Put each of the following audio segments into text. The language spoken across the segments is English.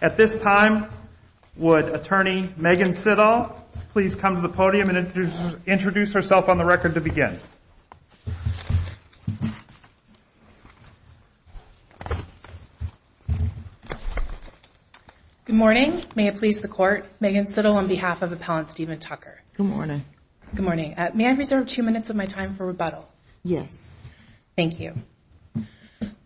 At this time, would Attorney Megan Sidahl please come to the podium and introduce herself on the record to begin? Good morning. May it please the Court. Good morning. May I reserve two minutes of my time for rebuttal? Yes. Thank you.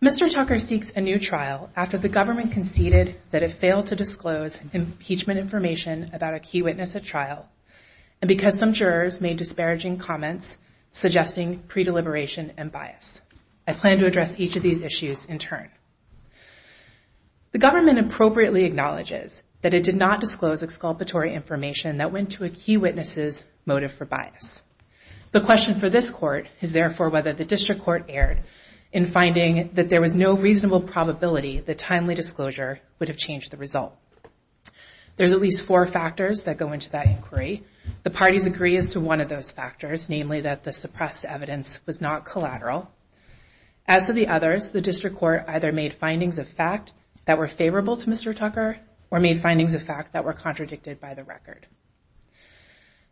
Mr. Tucker seeks a new trial after the government conceded that it failed to disclose impeachment information about a key witness at trial, and because some jurors made disparaging comments suggesting pre-deliberation and bias. I plan to address each of these issues in turn. The government appropriately acknowledges that it did not disclose exculpatory information that went to a key witness's motive for bias. The question for this Court is, therefore, whether the District Court erred in finding that there was no reasonable probability that timely disclosure would have changed the result. There's at least four factors that go into that inquiry. The parties agree as to one of those factors, namely that the suppressed evidence was not collateral. As to the others, the District Court either made findings of fact that were favorable to Mr. Tucker or made findings of fact that were contradicted by the record.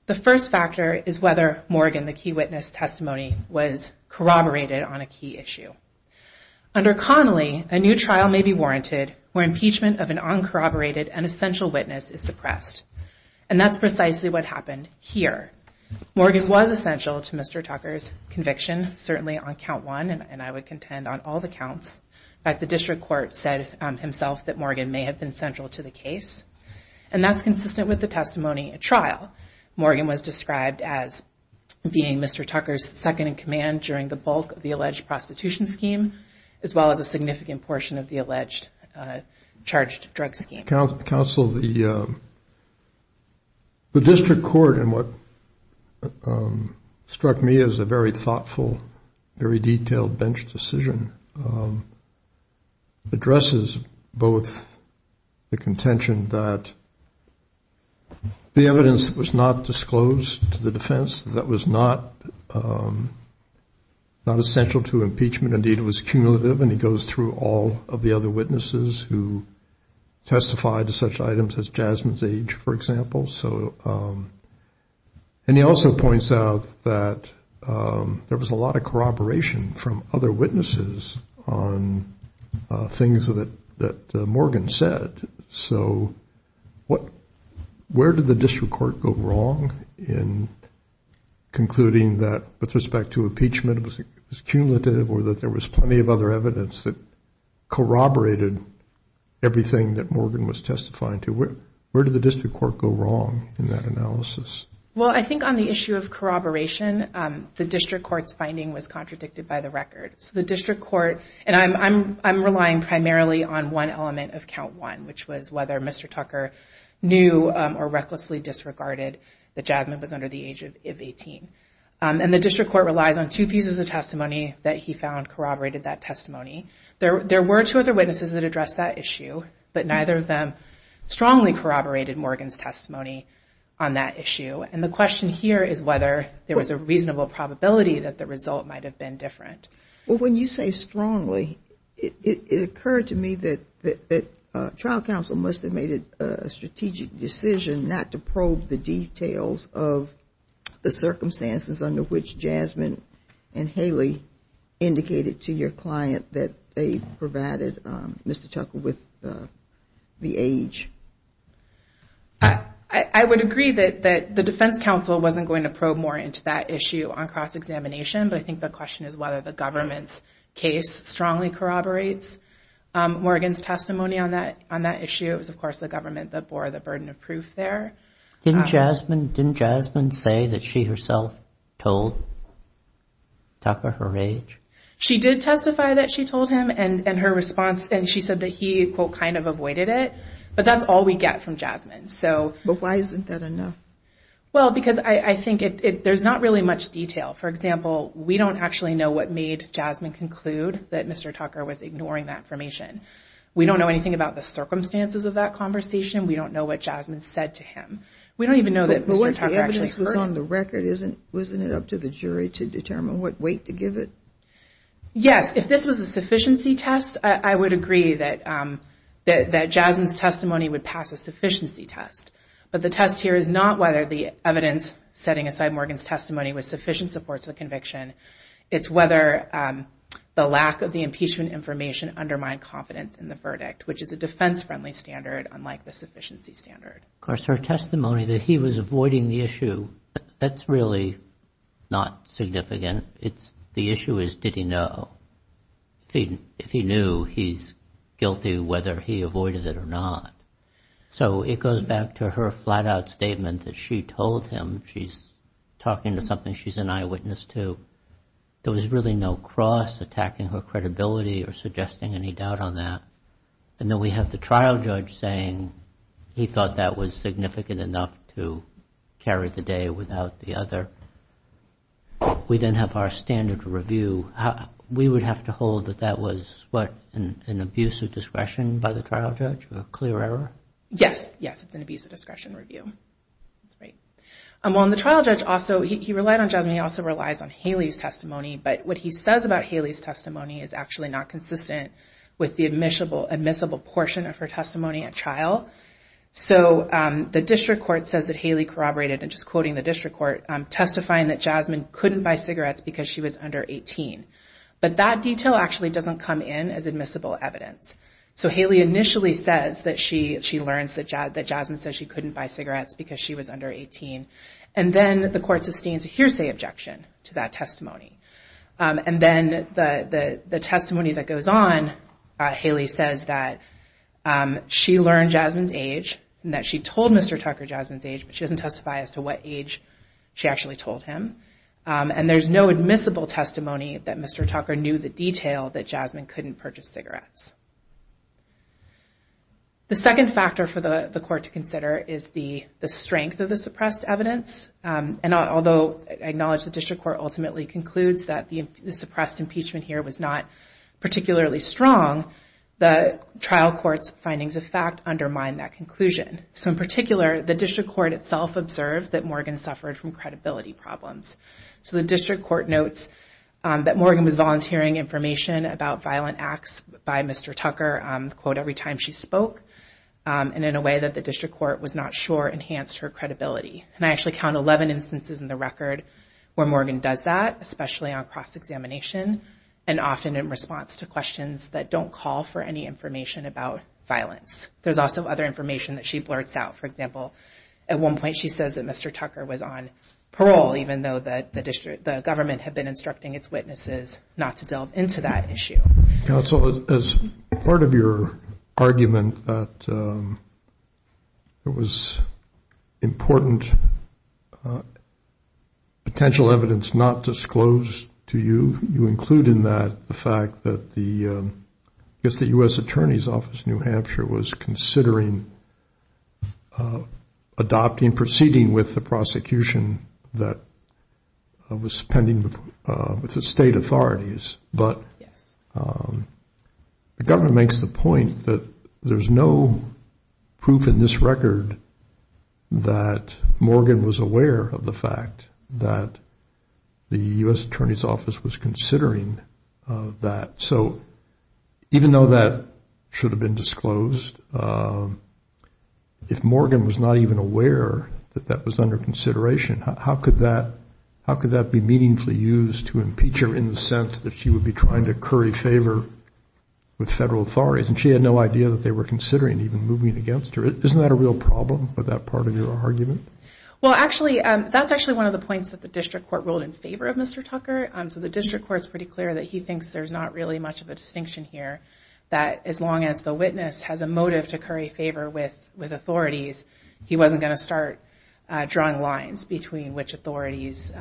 The first factor is whether Morgan, the key witness's testimony, was corroborated on a key issue. Under Connolly, a new trial may be warranted where impeachment of an uncorroborated and essential witness is suppressed, and that's precisely what happened here. Morgan was essential to Mr. Tucker's conviction, certainly on count one, and I would contend on all the counts. In fact, the District Court said himself that Morgan may have been central to the case, and that's consistent with the testimony at trial. Morgan was described as being Mr. Tucker's second-in-command during the bulk of the alleged prostitution scheme, as well as a significant portion of the alleged charged drug scheme. Counsel, the District Court, in what struck me as a very thoughtful, very detailed bench decision, addresses both the contention that the evidence was not disclosed to the defense, that was not essential to impeachment. Indeed, it was cumulative, and he goes through all of the other witnesses who testified to such items as Jasmine's age, for example. And he also points out that there was a lot of corroboration from other witnesses on things that Morgan said. So where did the District Court go wrong in concluding that with respect to impeachment, it was cumulative or that there was plenty of other evidence that corroborated everything that Morgan was testifying to? Where did the District Court go wrong in that analysis? Well, I think on the issue of corroboration, the District Court's finding was contradicted by the record. So the District Court, and I'm relying primarily on one element of count one, which was whether Mr. Tucker knew or recklessly disregarded that Jasmine was under the age of 18. And the District Court relies on two pieces of testimony that he found corroborated that testimony. There were two other witnesses that addressed that issue, but neither of them strongly corroborated Morgan's testimony on that issue. And the question here is whether there was a reasonable probability that the result might have been different. Well, when you say strongly, it occurred to me that trial counsel must have made a strategic decision not to probe the details of the circumstances under which Jasmine and Haley indicated to your client that they provided Mr. Tucker with the age. I would agree that the defense counsel wasn't going to probe more into that issue on cross-examination, but I think the question is whether the government's case strongly corroborates Morgan's testimony on that issue. It was, of course, the government that bore the burden of proof there. Didn't Jasmine say that she herself told Tucker her age? She did testify that she told him, and she said that he, quote, kind of avoided it. But that's all we get from Jasmine. But why isn't that enough? Well, because I think there's not really much detail. For example, we don't actually know what made Jasmine conclude that Mr. Tucker was ignoring that information. We don't know anything about the circumstances of that conversation. We don't know what Jasmine said to him. We don't even know that Mr. Tucker actually heard it. But once the evidence was on the record, wasn't it up to the jury to determine what weight to give it? Yes. If this was a sufficiency test, I would agree that Jasmine's testimony would pass a sufficiency test. But the test here is not whether the evidence setting aside Morgan's testimony was sufficient supports the conviction. It's whether the lack of the impeachment information undermined confidence in the verdict, which is a defense-friendly standard unlike the sufficiency standard. Of course, her testimony that he was avoiding the issue, that's really not significant. The issue is, did he know? If he knew, he's guilty whether he avoided it or not. So it goes back to her flat-out statement that she told him she's talking to something she's an eyewitness to. There was really no cross attacking her credibility or suggesting any doubt on that. And then we have the trial judge saying he thought that was significant enough to carry the day without the other. We then have our standard review. We would have to hold that that was an abuse of discretion by the trial judge, a clear error? Yes. Yes, it's an abuse of discretion review. That's right. Well, and the trial judge also, he relied on Jasmine. He also relies on Haley's testimony. But what he says about Haley's testimony is actually not consistent with the admissible portion of her testimony at trial. So the district court says that Haley corroborated, and just quoting the district court, testifying that Jasmine couldn't buy cigarettes because she was under 18. But that detail actually doesn't come in as admissible evidence. So Haley initially says that she learns that Jasmine says she couldn't buy cigarettes because she was under 18. And then the court sustains a hearsay objection to that testimony. And then the testimony that goes on, Haley says that she learned Jasmine's age, and that she told Mr. Tucker Jasmine's age, but she doesn't testify as to what age she actually told him. And there's no admissible testimony that Mr. Tucker knew the detail that Jasmine couldn't purchase cigarettes. The second factor for the court to consider is the strength of the suppressed evidence. And although I acknowledge the district court ultimately concludes that the suppressed impeachment here was not particularly strong, the trial court's findings of fact undermine that conclusion. So in particular, the district court itself observed that Morgan suffered from credibility problems. So the district court notes that Morgan was volunteering information about violent acts by Mr. Tucker, quote, every time she spoke, and in a way that the district court was not sure enhanced her credibility. And I actually count 11 instances in the record where Morgan does that, especially on cross-examination, and often in response to questions that don't call for any information about violence. There's also other information that she blurts out. For example, at one point she says that Mr. Tucker was on parole, even though the government had been instructing its witnesses not to delve into that issue. Counsel, as part of your argument that it was important potential evidence not disclosed to you, you include in that the fact that the U.S. Attorney's Office in New Hampshire was considering adopting, proceeding with the prosecution that was pending with the state authorities. But the government makes the point that there's no proof in this record that Morgan was aware of the fact that the U.S. Attorney's Office was considering that. So even though that should have been disclosed, if Morgan was not even aware that that was under consideration, how could that be meaningfully used to impeach her in the sense that she would be trying to curry favor with federal authorities? And she had no idea that they were considering even moving against her. Isn't that a real problem with that part of your argument? Well, actually, that's actually one of the points that the district court ruled in favor of Mr. Tucker. So the district court is pretty clear that he thinks there's not really much of a distinction here, that as long as the witness has a motive to curry favor with authorities, he wasn't going to start drawing lines between which authorities'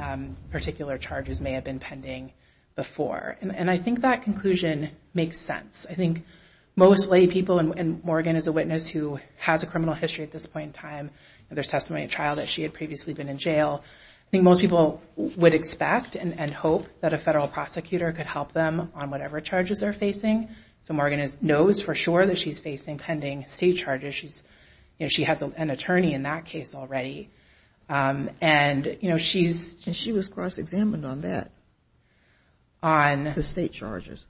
particular charges may have been pending before. And I think that conclusion makes sense. I think most laypeople, and Morgan is a witness who has a criminal history at this point in time, and there's testimony of a child that she had previously been in jail, I think most people would expect and hope that a federal prosecutor could help them on whatever charges they're facing. So Morgan knows for sure that she's facing pending state charges. She has an attorney in that case already. And she was cross-examined on that, the state charges.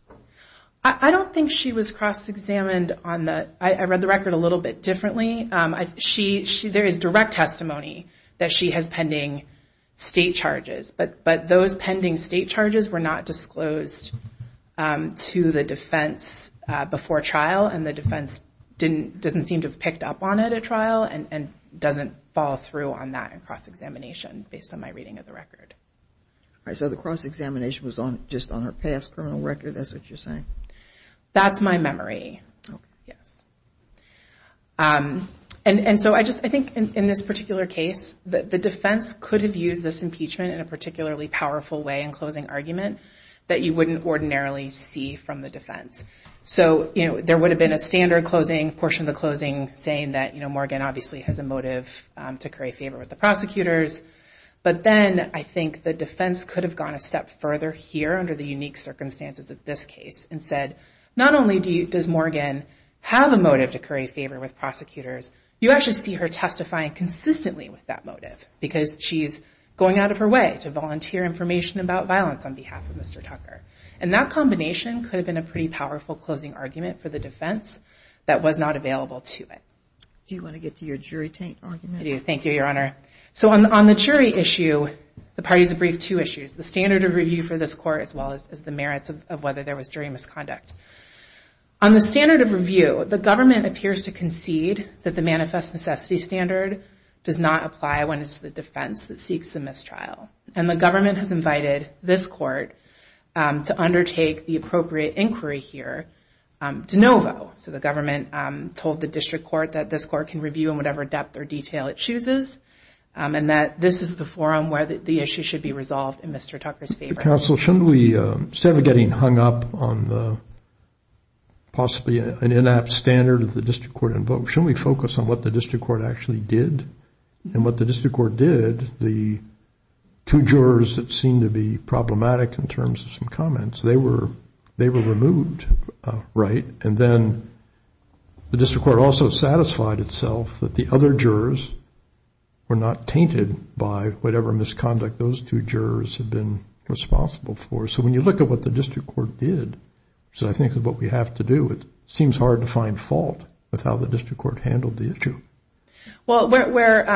I don't think she was cross-examined on that. I read the record a little bit differently. There is direct testimony that she has pending state charges, but those pending state charges were not disclosed to the defense before trial, and the defense doesn't seem to have picked up on it at trial and doesn't follow through on that in cross-examination based on my reading of the record. So the cross-examination was just on her past criminal record, that's what you're saying? That's my memory, yes. And so I think in this particular case, the defense could have used this impeachment in a particularly powerful way in closing argument that you wouldn't ordinarily see from the defense. So, you know, there would have been a standard closing, portion of the closing, saying that, you know, Morgan obviously has a motive to curry favor with the prosecutors. But then I think the defense could have gone a step further here under the unique circumstances of this case and said, not only does Morgan have a motive to curry favor with prosecutors, you actually see her testifying consistently with that motive because she's going out of her way to volunteer information about violence on behalf of Mr. Tucker. And that combination could have been a pretty powerful closing argument for the defense that was not available to it. Do you want to get to your jury argument? I do, thank you, Your Honor. So on the jury issue, the parties have briefed two issues, the standard of review for this court as well as the merits of whether there was jury misconduct. On the standard of review, the government appears to concede that the manifest necessity standard does not apply when it's the defense that seeks the mistrial. And the government has invited this court to undertake the appropriate inquiry here to NoVo. So the government told the district court that this court can review in whatever depth or detail it chooses and that this is the forum where the issue should be resolved in Mr. Tucker's favor. Counsel, shouldn't we, instead of getting hung up on possibly an in-app standard that the district court invoked, shouldn't we focus on what the district court actually did? And what the district court did, the two jurors that seemed to be problematic in terms of some comments, they were removed, right? And then the district court also satisfied itself that the other jurors were not tainted by whatever misconduct those two jurors had been responsible for. So when you look at what the district court did, which I think is what we have to do, it seems hard to find fault with how the district court handled the issue. Well, where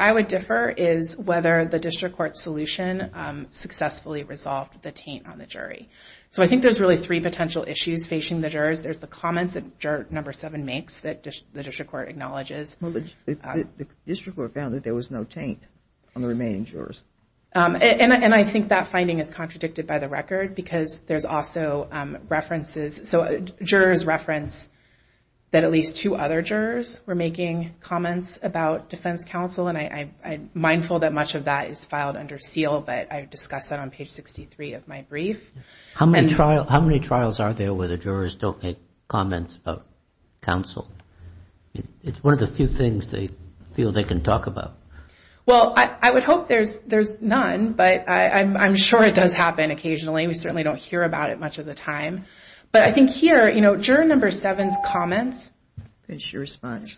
I would differ is whether the district court solution successfully resolved the taint on the jury. So I think there's really three potential issues facing the jurors. There's the comments that juror number seven makes that the district court acknowledges. Well, the district court found that there was no taint on the remaining jurors. And I think that finding is contradicted by the record because there's also references. So jurors reference that at least two other jurors were making comments about defense counsel, and I'm mindful that much of that is filed under seal, but I discuss that on page 63 of my brief. How many trials are there where the jurors don't make comments about counsel? It's one of the few things they feel they can talk about. Well, I would hope there's none, but I'm sure it does happen occasionally. We certainly don't hear about it much of the time. But I think here, you know, juror number seven's comments. Is your response.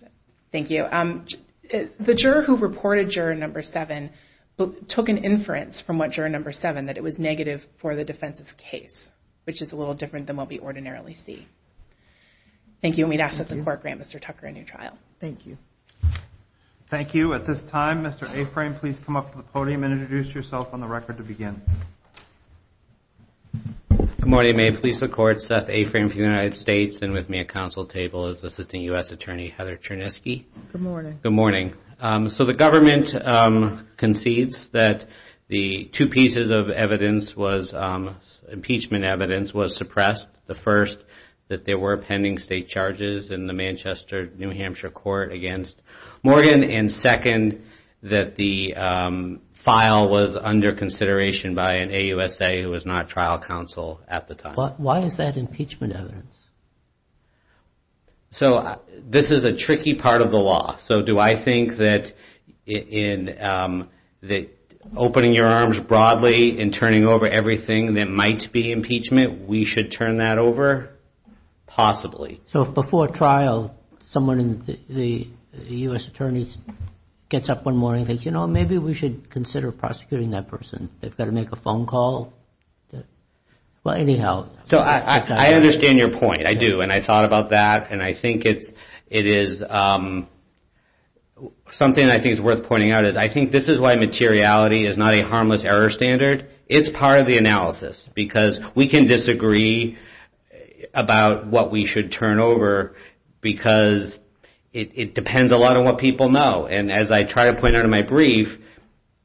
Thank you. The juror who reported juror number seven took an inference from what juror number seven, that it was negative for the defense's case, which is a little different than what we ordinarily see. Thank you, and we'd ask that the court grant Mr. Tucker a new trial. Thank you. Thank you. At this time, Mr. Aframe, please come up to the podium and introduce yourself on the record to begin. Good morning. May it please the Court, Seth Aframe for the United States, and with me at counsel table is Assistant U.S. Attorney Heather Cherniski. Good morning. Good morning. So the government concedes that the two pieces of evidence was impeachment evidence was suppressed. The first, that there were pending state charges in the Manchester, New Hampshire court against Morgan, and second, that the file was under consideration by an AUSA who was not trial counsel at the time. Why is that impeachment evidence? So this is a tricky part of the law. So do I think that opening your arms broadly and turning over everything that might be impeachment, we should turn that over? Possibly. Possibly. So if before trial someone in the U.S. Attorney's gets up one morning and thinks, you know, maybe we should consider prosecuting that person, they've got to make a phone call? Well, anyhow. So I understand your point, I do, and I thought about that, and I think it is something I think is worth pointing out, is I think this is why materiality is not a harmless error standard. It's part of the analysis because we can disagree about what we should turn over because it depends a lot on what people know. And as I try to point out in my brief,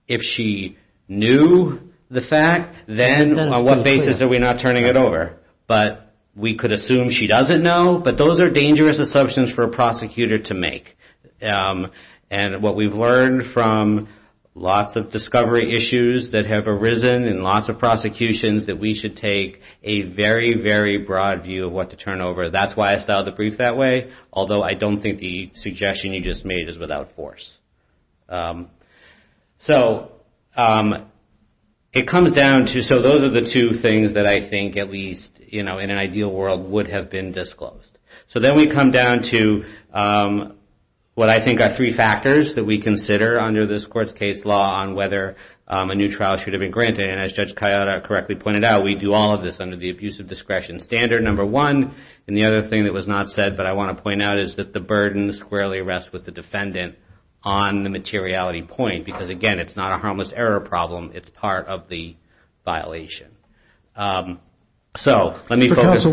if she knew the fact, then on what basis are we not turning it over? But we could assume she doesn't know, but those are dangerous assumptions for a prosecutor to make. And what we've learned from lots of discovery issues that have arisen in lots of prosecutions, that we should take a very, very broad view of what to turn over. That's why I styled the brief that way, although I don't think the suggestion you just made is without force. So it comes down to, so those are the two things that I think at least, you know, in an ideal world would have been disclosed. So then we come down to what I think are three factors that we consider under this court's case law on whether a new trial should have been granted. And as Judge Kayada correctly pointed out, we do all of this under the abusive discretion standard, number one. And the other thing that was not said, but I want to point out, is that the burden squarely rests with the defendant on the materiality point because, again, it's not a harmless error problem, it's part of the violation. So let me focus.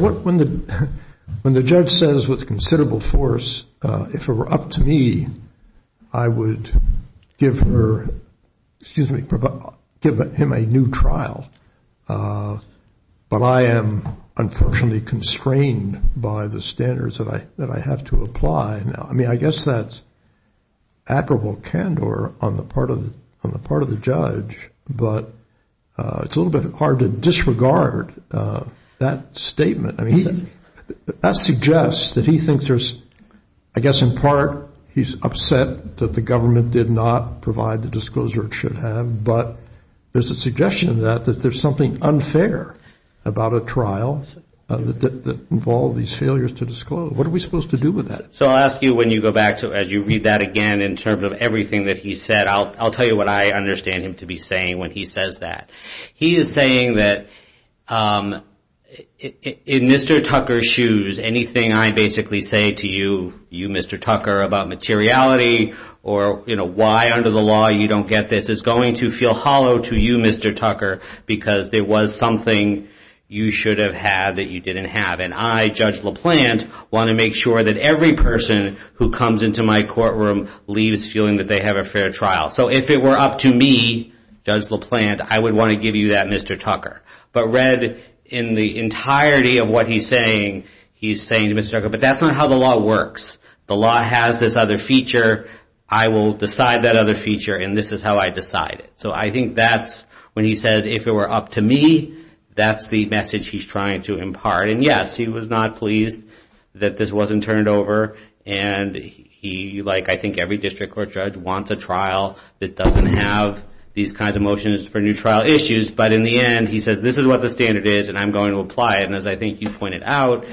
When the judge says with considerable force, if it were up to me, I would give her, excuse me, give him a new trial, but I am unfortunately constrained by the standards that I have to apply. I mean, I guess that's admirable candor on the part of the judge, but it's a little bit hard to disregard that statement. I mean, that suggests that he thinks there's, I guess in part, he's upset that the government did not provide the disclosure it should have, but there's a suggestion that there's something unfair about a trial that involved these failures to disclose. What are we supposed to do with that? So I'll ask you when you go back, as you read that again in terms of everything that he said, I'll tell you what I understand him to be saying when he says that. He is saying that in Mr. Tucker's shoes, anything I basically say to you, Mr. Tucker, about materiality or why under the law you don't get this is going to feel hollow to you, Mr. Tucker, because there was something you should have had that you didn't have, and I, Judge LaPlante, want to make sure that every person who comes into my courtroom leaves feeling that they have a fair trial. So if it were up to me, Judge LaPlante, I would want to give you that, Mr. Tucker. But read in the entirety of what he's saying, he's saying to Mr. Tucker, but that's not how the law works. The law has this other feature. I will decide that other feature, and this is how I decide it. So I think that's when he says, if it were up to me, that's the message he's trying to impart. And yes, he was not pleased that this wasn't turned over, and he, like I think every district court judge, wants a trial that doesn't have these kinds of motions for new trial issues. But in the end, he says, this is what the standard is, and I'm going to apply it. And as I think you pointed out,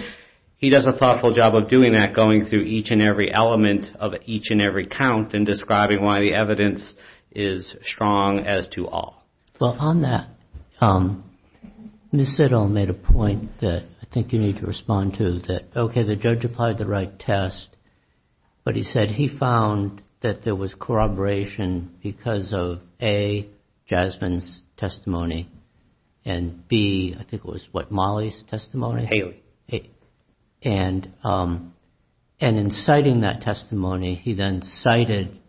he does a thoughtful job of doing that, going through each and every element of each and every count and describing why the evidence is strong as to all. Well, on that, Ms. Sittle made a point that I think you need to respond to that, OK, the judge applied the right test, but he said he found that there was corroboration because of A, Jasmine's testimony, and B, I think it was what, Molly's testimony? Haley. And in citing that testimony, he then cited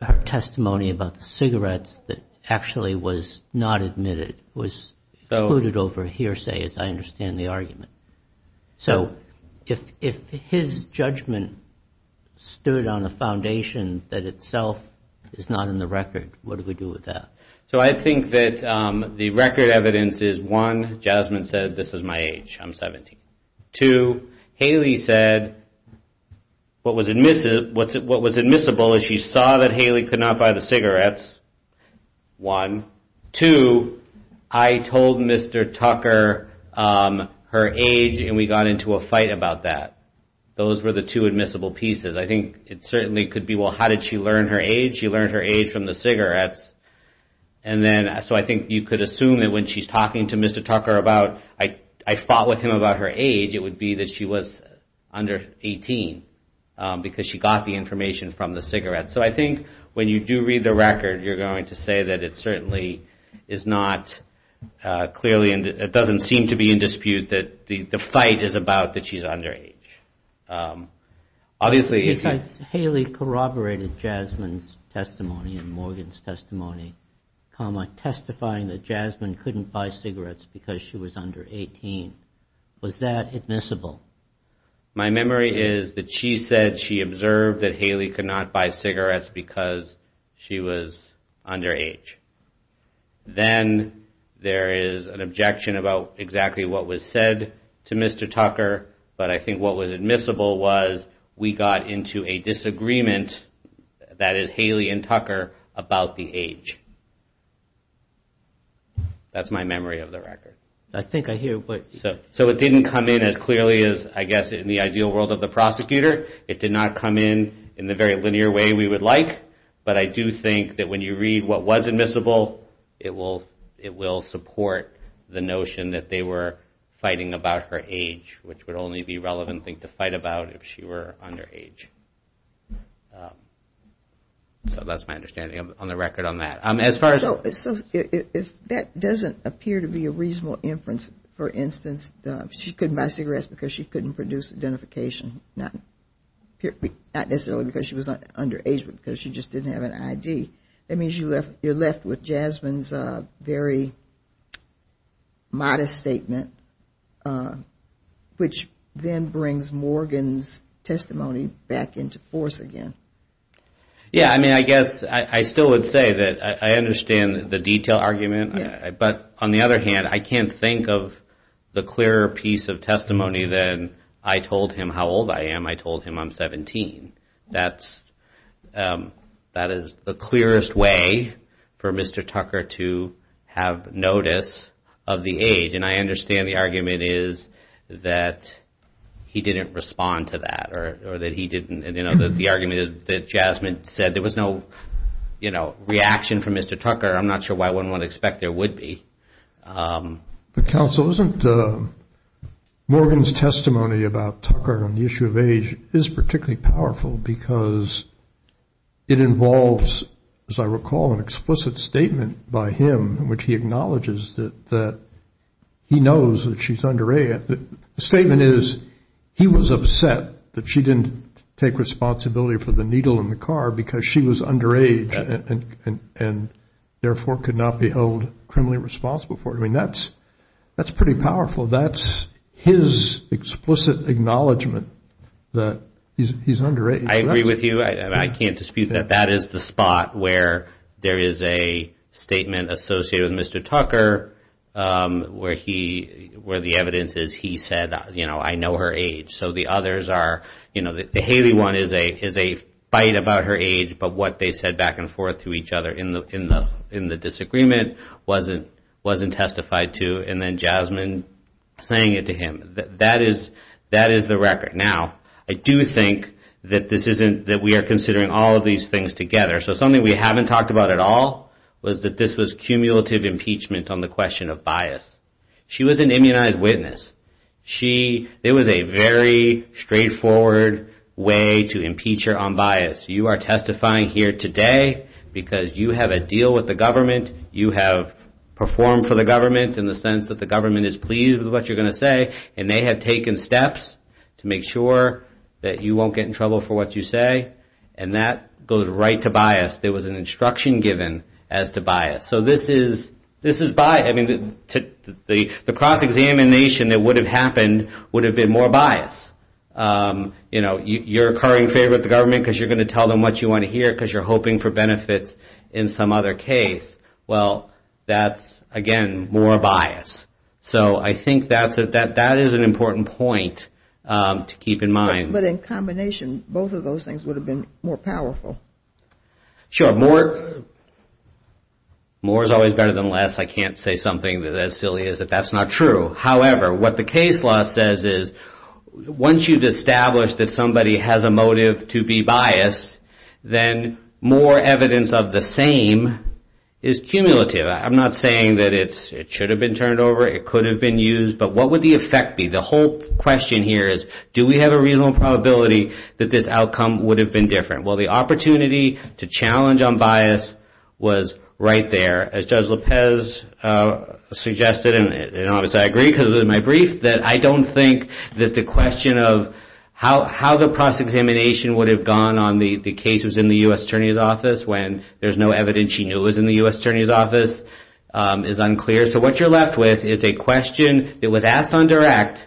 her testimony about the cigarettes that actually was not admitted, was excluded over hearsay, as I understand the argument. So if his judgment stood on a foundation that itself is not in the record, what do we do with that? So I think that the record evidence is, one, Jasmine said, this is my age, I'm 17. Two, Haley said what was admissible is she saw that Haley could not buy the cigarettes, one. Two, I told Mr. Tucker her age and we got into a fight about that. Those were the two admissible pieces. I think it certainly could be, well, how did she learn her age? She learned her age from the cigarettes. So I think you could assume that when she's talking to Mr. Tucker about, I fought with him about her age, it would be that she was under 18 because she got the information from the cigarettes. So I think when you do read the record, you're going to say that it certainly is not clearly, it doesn't seem to be in dispute that the fight is about that she's underage. Besides Haley corroborated Jasmine's testimony and Morgan's testimony, testifying that Jasmine couldn't buy cigarettes because she was under 18, was that admissible? My memory is that she said she observed that Haley could not buy cigarettes because she was under age. Then there is an objection about exactly what was said to Mr. Tucker, but I think what was admissible was we got into a disagreement, that is Haley and Tucker, about the age. That's my memory of the record. I think I hear what... So it didn't come in as clearly as I guess in the ideal world of the prosecutor. It did not come in in the very linear way we would like, but I do think that when you read what was admissible, it will support the notion that they were fighting about her age, which would only be a relevant thing to fight about if she were under age. So that's my understanding on the record on that. As far as... So if that doesn't appear to be a reasonable inference, for instance, she couldn't buy cigarettes because she couldn't produce identification, not necessarily because she was under age, but because she just didn't have an ID, that means you're left with Jasmine's very modest statement, which then brings Morgan's testimony back into force again. Yeah, I mean, I guess I still would say that I understand the detail argument, but on the other hand, I can't think of the clearer piece of testimony than I told him how old I am. I told him I'm 17. That is the clearest way for Mr. Tucker to have notice of the age, and I understand the argument is that he didn't respond to that or that he didn't... The argument is that Jasmine said there was no reaction from Mr. Tucker. I'm not sure why one would expect there would be. But, counsel, isn't Morgan's testimony about Tucker on the issue of age is particularly powerful because it involves, as I recall, an explicit statement by him in which he acknowledges that he knows that she's under age. The statement is he was upset that she didn't take responsibility for the needle in the car because she was under age and, therefore, could not be held criminally responsible for it. I mean, that's pretty powerful. That's his explicit acknowledgment that he's under age. I agree with you, and I can't dispute that. That is the spot where there is a statement associated with Mr. Tucker where the evidence is he said, you know, I know her age. So the others are, you know, the Haley one is a fight about her age, but what they said back and forth to each other in the disagreement wasn't testified to, and then Jasmine saying it to him. That is the record. Now, I do think that we are considering all of these things together. So something we haven't talked about at all was that this was cumulative impeachment on the question of bias. She was an immunized witness. It was a very straightforward way to impeach her on bias. You are testifying here today because you have a deal with the government, you have performed for the government in the sense that the government is pleased with what you're going to say, and they have taken steps to make sure that you won't get in trouble for what you say, and that goes right to bias. There was an instruction given as to bias. So this is bias. I mean, the cross-examination that would have happened would have been more bias. You know, you're occurring favor with the government because you're going to tell them what you want to hear because you're hoping for benefits in some other case. Well, that's, again, more bias. So I think that is an important point to keep in mind. But in combination, both of those things would have been more powerful. Sure. More is always better than less. I can't say something as silly as that that's not true. However, what the case law says is once you've established that somebody has a motive to be biased, then more evidence of the same is cumulative. I'm not saying that it should have been turned over, it could have been used, but what would the effect be? The whole question here is do we have a reasonable probability that this outcome would have been different? Well, the opportunity to challenge on bias was right there. As Judge Lopez suggested, and obviously I agree because it was in my brief, that I don't think that the question of how the cross-examination would have gone on the case that was in the U.S. Attorney's Office when there's no evidence she knew was in the U.S. Attorney's Office is unclear. So what you're left with is a question that was asked on direct,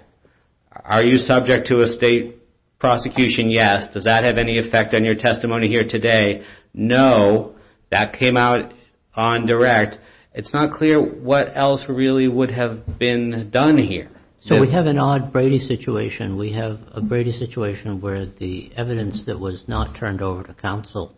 are you subject to a state prosecution? Yes. Does that have any effect on your testimony here today? No. That came out on direct. It's not clear what else really would have been done here. So we have an odd Brady situation. We have a Brady situation where the evidence that was not turned over to counsel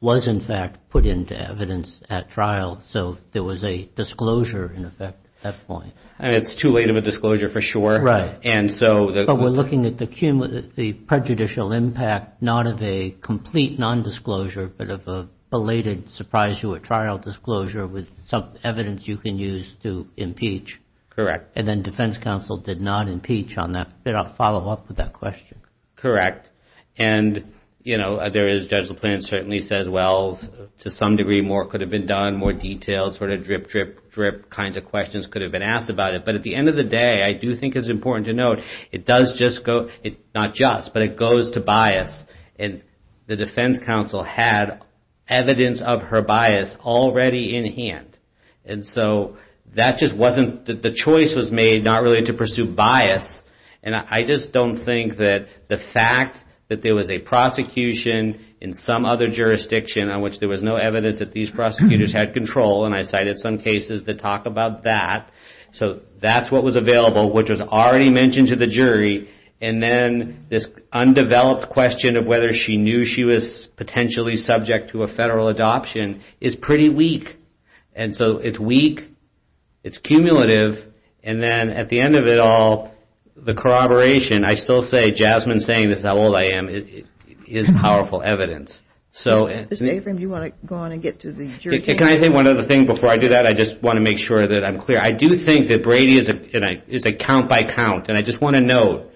was in fact put into evidence at trial. So there was a disclosure in effect at that point. It's too late of a disclosure for sure. Right. But we're looking at the prejudicial impact not of a complete nondisclosure but of a belated surprise to a trial disclosure with some evidence you can use to impeach. Correct. And then defense counsel did not impeach on that, did not follow up with that question. Correct. And, you know, Judge LaPlante certainly says, well, to some degree more could have been done, more details, sort of drip, drip, drip kinds of questions could have been asked about it. But at the end of the day, I do think it's important to note, it does just go, not just, but it goes to bias. And the defense counsel had evidence of her bias already in hand. And so that just wasn't, the choice was made not really to pursue bias. And I just don't think that the fact that there was a prosecution in some other jurisdiction on which there was no evidence that these prosecutors had control, and I cited some cases that talk about that. So that's what was available, which was already mentioned to the jury. And then this undeveloped question of whether she knew she was potentially subject to a federal adoption is pretty weak. And so it's weak, it's cumulative, and then at the end of it all, the corroboration, I still say, Jasmine's saying, this is how old I am, is powerful evidence. Mr. Abrams, do you want to go on and get to the jury? Can I say one other thing before I do that? I just want to make sure that I'm clear. I do think that Brady is a count by count, and I just want to note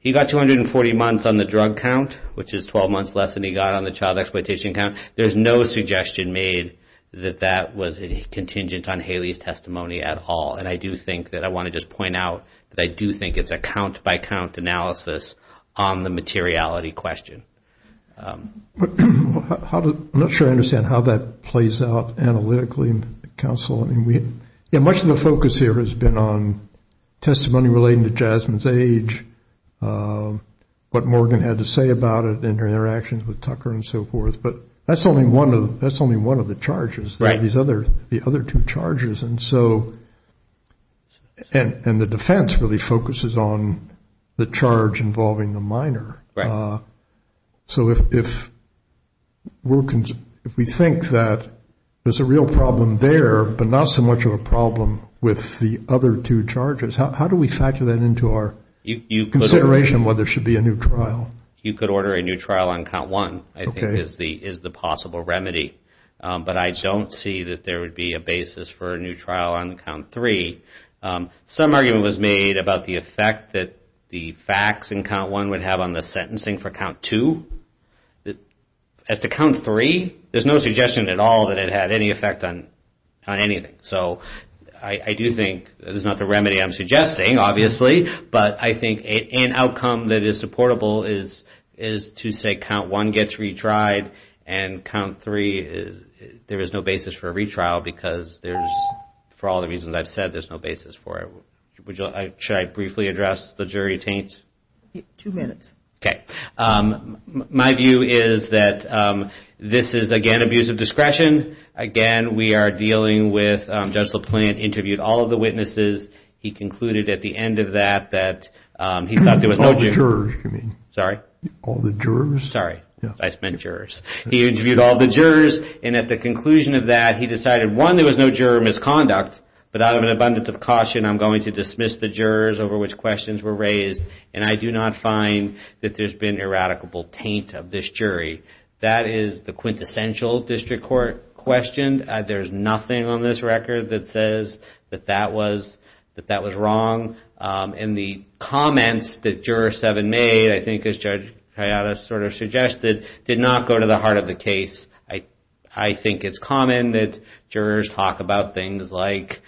he got 240 months on the drug count, which is 12 months less than he got on the child exploitation count. There's no suggestion made that that was contingent on Haley's testimony at all. And I do think that I want to just point out that I do think it's a count by count analysis on the materiality question. I'm not sure I understand how that plays out analytically, Counsel. Much of the focus here has been on testimony relating to Jasmine's age, what Morgan had to say about it in her interactions with Tucker and so forth. But that's only one of the charges. There are these other two charges. And the defense really focuses on the charge involving the minor. So if we think that there's a real problem there, but not so much of a problem with the other two charges, how do we factor that into our consideration whether there should be a new trial? You could order a new trial on count one, I think, is the possible remedy. But I don't see that there would be a basis for a new trial on count three. Some argument was made about the effect that the facts in count one would have on the sentencing for count two. As to count three, there's no suggestion at all that it had any effect on anything. So I do think it's not the remedy I'm suggesting, obviously, but I think an outcome that is supportable is to say count one gets retried and count three, there is no basis for a retrial because there's, for all the reasons I've said, there's no basis for it. Should I briefly address the jury taint? Yes. Two minutes. Okay. My view is that this is, again, abuse of discretion. Again, we are dealing with Judge LaPlante interviewed all of the witnesses. He concluded at the end of that that he thought there was no jury. All the jurors, you mean? Sorry? All the jurors? Sorry. I meant jurors. He interviewed all the jurors, and at the conclusion of that, he decided, one, there was no juror misconduct, but out of an abundance of caution, I'm going to dismiss the jurors over which questions were raised, and I do not find that there's been eradicable taint of this jury. That is the quintessential district court question. There's nothing on this record that says that that was wrong. And the comments that Juror 7 made, I think as Judge Hayata sort of suggested, did not go to the heart of the case. I think it's common that jurors talk about things like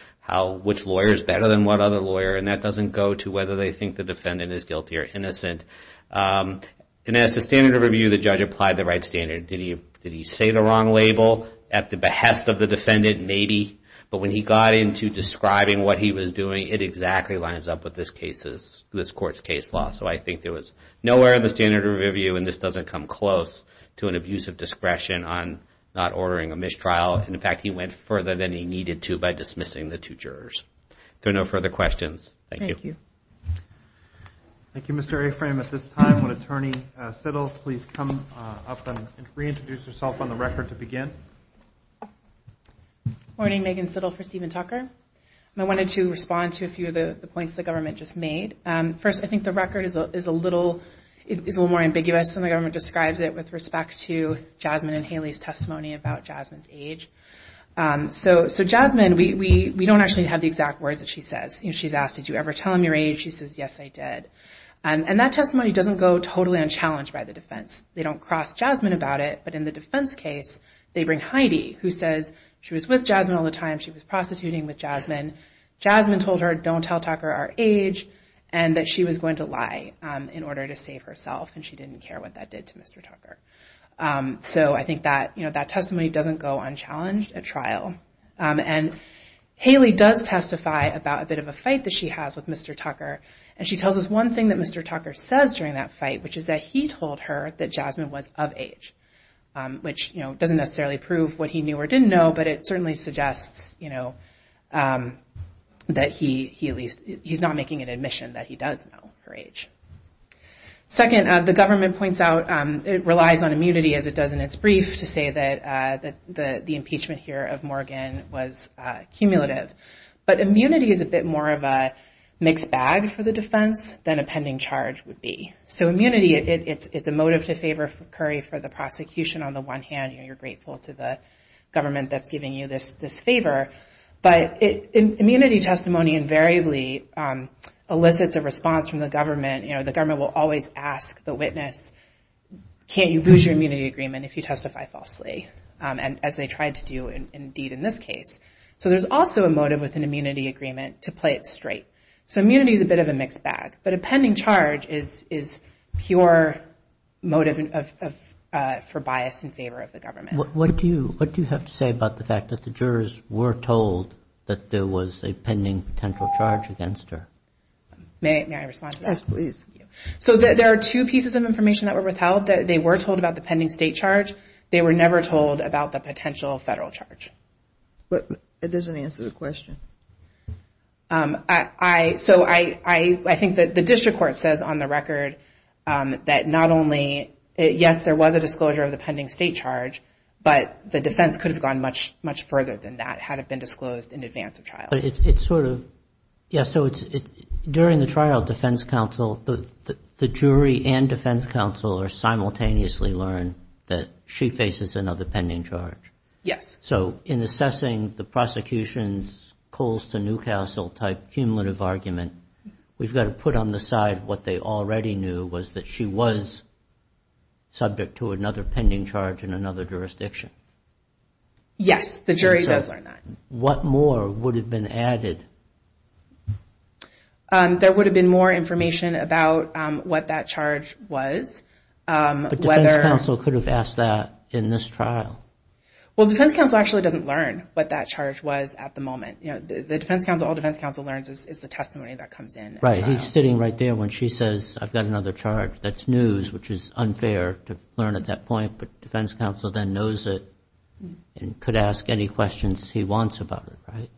which lawyer is better than what other lawyer, and that doesn't go to whether they think the defendant is guilty or innocent. And as the standard of review, the judge applied the right standard. Did he say the wrong label at the behest of the defendant? Maybe. But when he got into describing what he was doing, it exactly lines up with this court's case law. So I think there was nowhere in the standard of review, and this doesn't come close to an abuse of discretion on not ordering a mistrial. In fact, he went further than he needed to by dismissing the two jurors. If there are no further questions, thank you. Thank you. Thank you, Mr. Aframe. At this time, would Attorney Sittle please come up and reintroduce herself on the record to begin? Good morning. Megan Sittle for Stephen Tucker. I wanted to respond to a few of the points the government just made. First, I think the record is a little more ambiguous than the government describes it with respect to Jasmine and Haley's testimony about Jasmine's age. So Jasmine, we don't actually have the exact words that she says. She's asked, did you ever tell them your age? She says, yes, I did. And that testimony doesn't go totally unchallenged by the defense. They don't cross Jasmine about it, but in the defense case, they bring Heidi, who says she was with Jasmine all the time. She was prostituting with Jasmine. Jasmine told her, don't tell Tucker our age, and that she was going to lie in order to save herself, and she didn't care what that did to Mr. Tucker. So I think that testimony doesn't go unchallenged at trial. And Haley does testify about a bit of a fight that she has with Mr. Tucker, and she tells us one thing that Mr. Tucker says during that fight, which is that he told her that Jasmine was of age, which doesn't necessarily prove what he knew or didn't know, but it certainly suggests that he's not making an admission that he does know her age. Second, the government points out it relies on immunity, as it does in its brief, to say that the impeachment here of Morgan was cumulative. But immunity is a bit more of a mixed bag for the defense than a pending charge would be. So immunity, it's a motive to favor Curry for the prosecution. On the one hand, you're grateful to the government that's giving you this favor, but immunity testimony invariably elicits a response from the government. The government will always ask the witness, can't you lose your immunity agreement if you testify falsely, as they tried to do indeed in this case. So there's also a motive with an immunity agreement to play it straight. So immunity is a bit of a mixed bag, but a pending charge is pure motive for bias in favor of the government. What do you have to say about the fact that the jurors were told that there was a pending potential charge against her? May I respond to that? Yes, please. So there are two pieces of information that were withheld. They were told about the pending state charge. They were never told about the potential federal charge. It doesn't answer the question. So I think that the district court says on the record that not only, yes, there was a disclosure of the pending state charge, but the defense could have gone much, much further than that had it been disclosed in advance of trial. But it's sort of, yes, so during the trial defense counsel, the jury and defense counsel are simultaneously learned that she faces another pending charge. Yes. So in assessing the prosecution's Colston Newcastle type cumulative argument, we've got to put on the side what they already knew was that she was subject to another pending charge in another jurisdiction. Yes, the jury does learn that. What more would have been added? There would have been more information about what that charge was. But defense counsel could have asked that in this trial. Well, defense counsel actually doesn't learn what that charge was at the moment. You know, the defense counsel, all defense counsel learns is the testimony that comes in. Right. He's sitting right there when she says, I've got another charge. That's news, which is unfair to learn at that point. But defense counsel then knows it and could ask any questions he wants about it, right?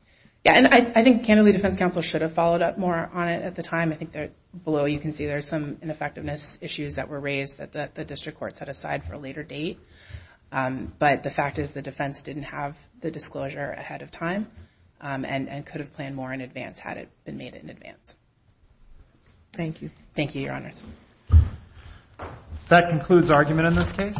Yes. And I think, candidly, defense counsel should have followed up more on it at the time. I think below you can see there's some ineffectiveness issues that were raised that the district court set aside for a later date. But the fact is the defense didn't have the disclosure ahead of time and could have planned more in advance had it been made in advance. Thank you. Thank you, Your Honors. That concludes argument in this case.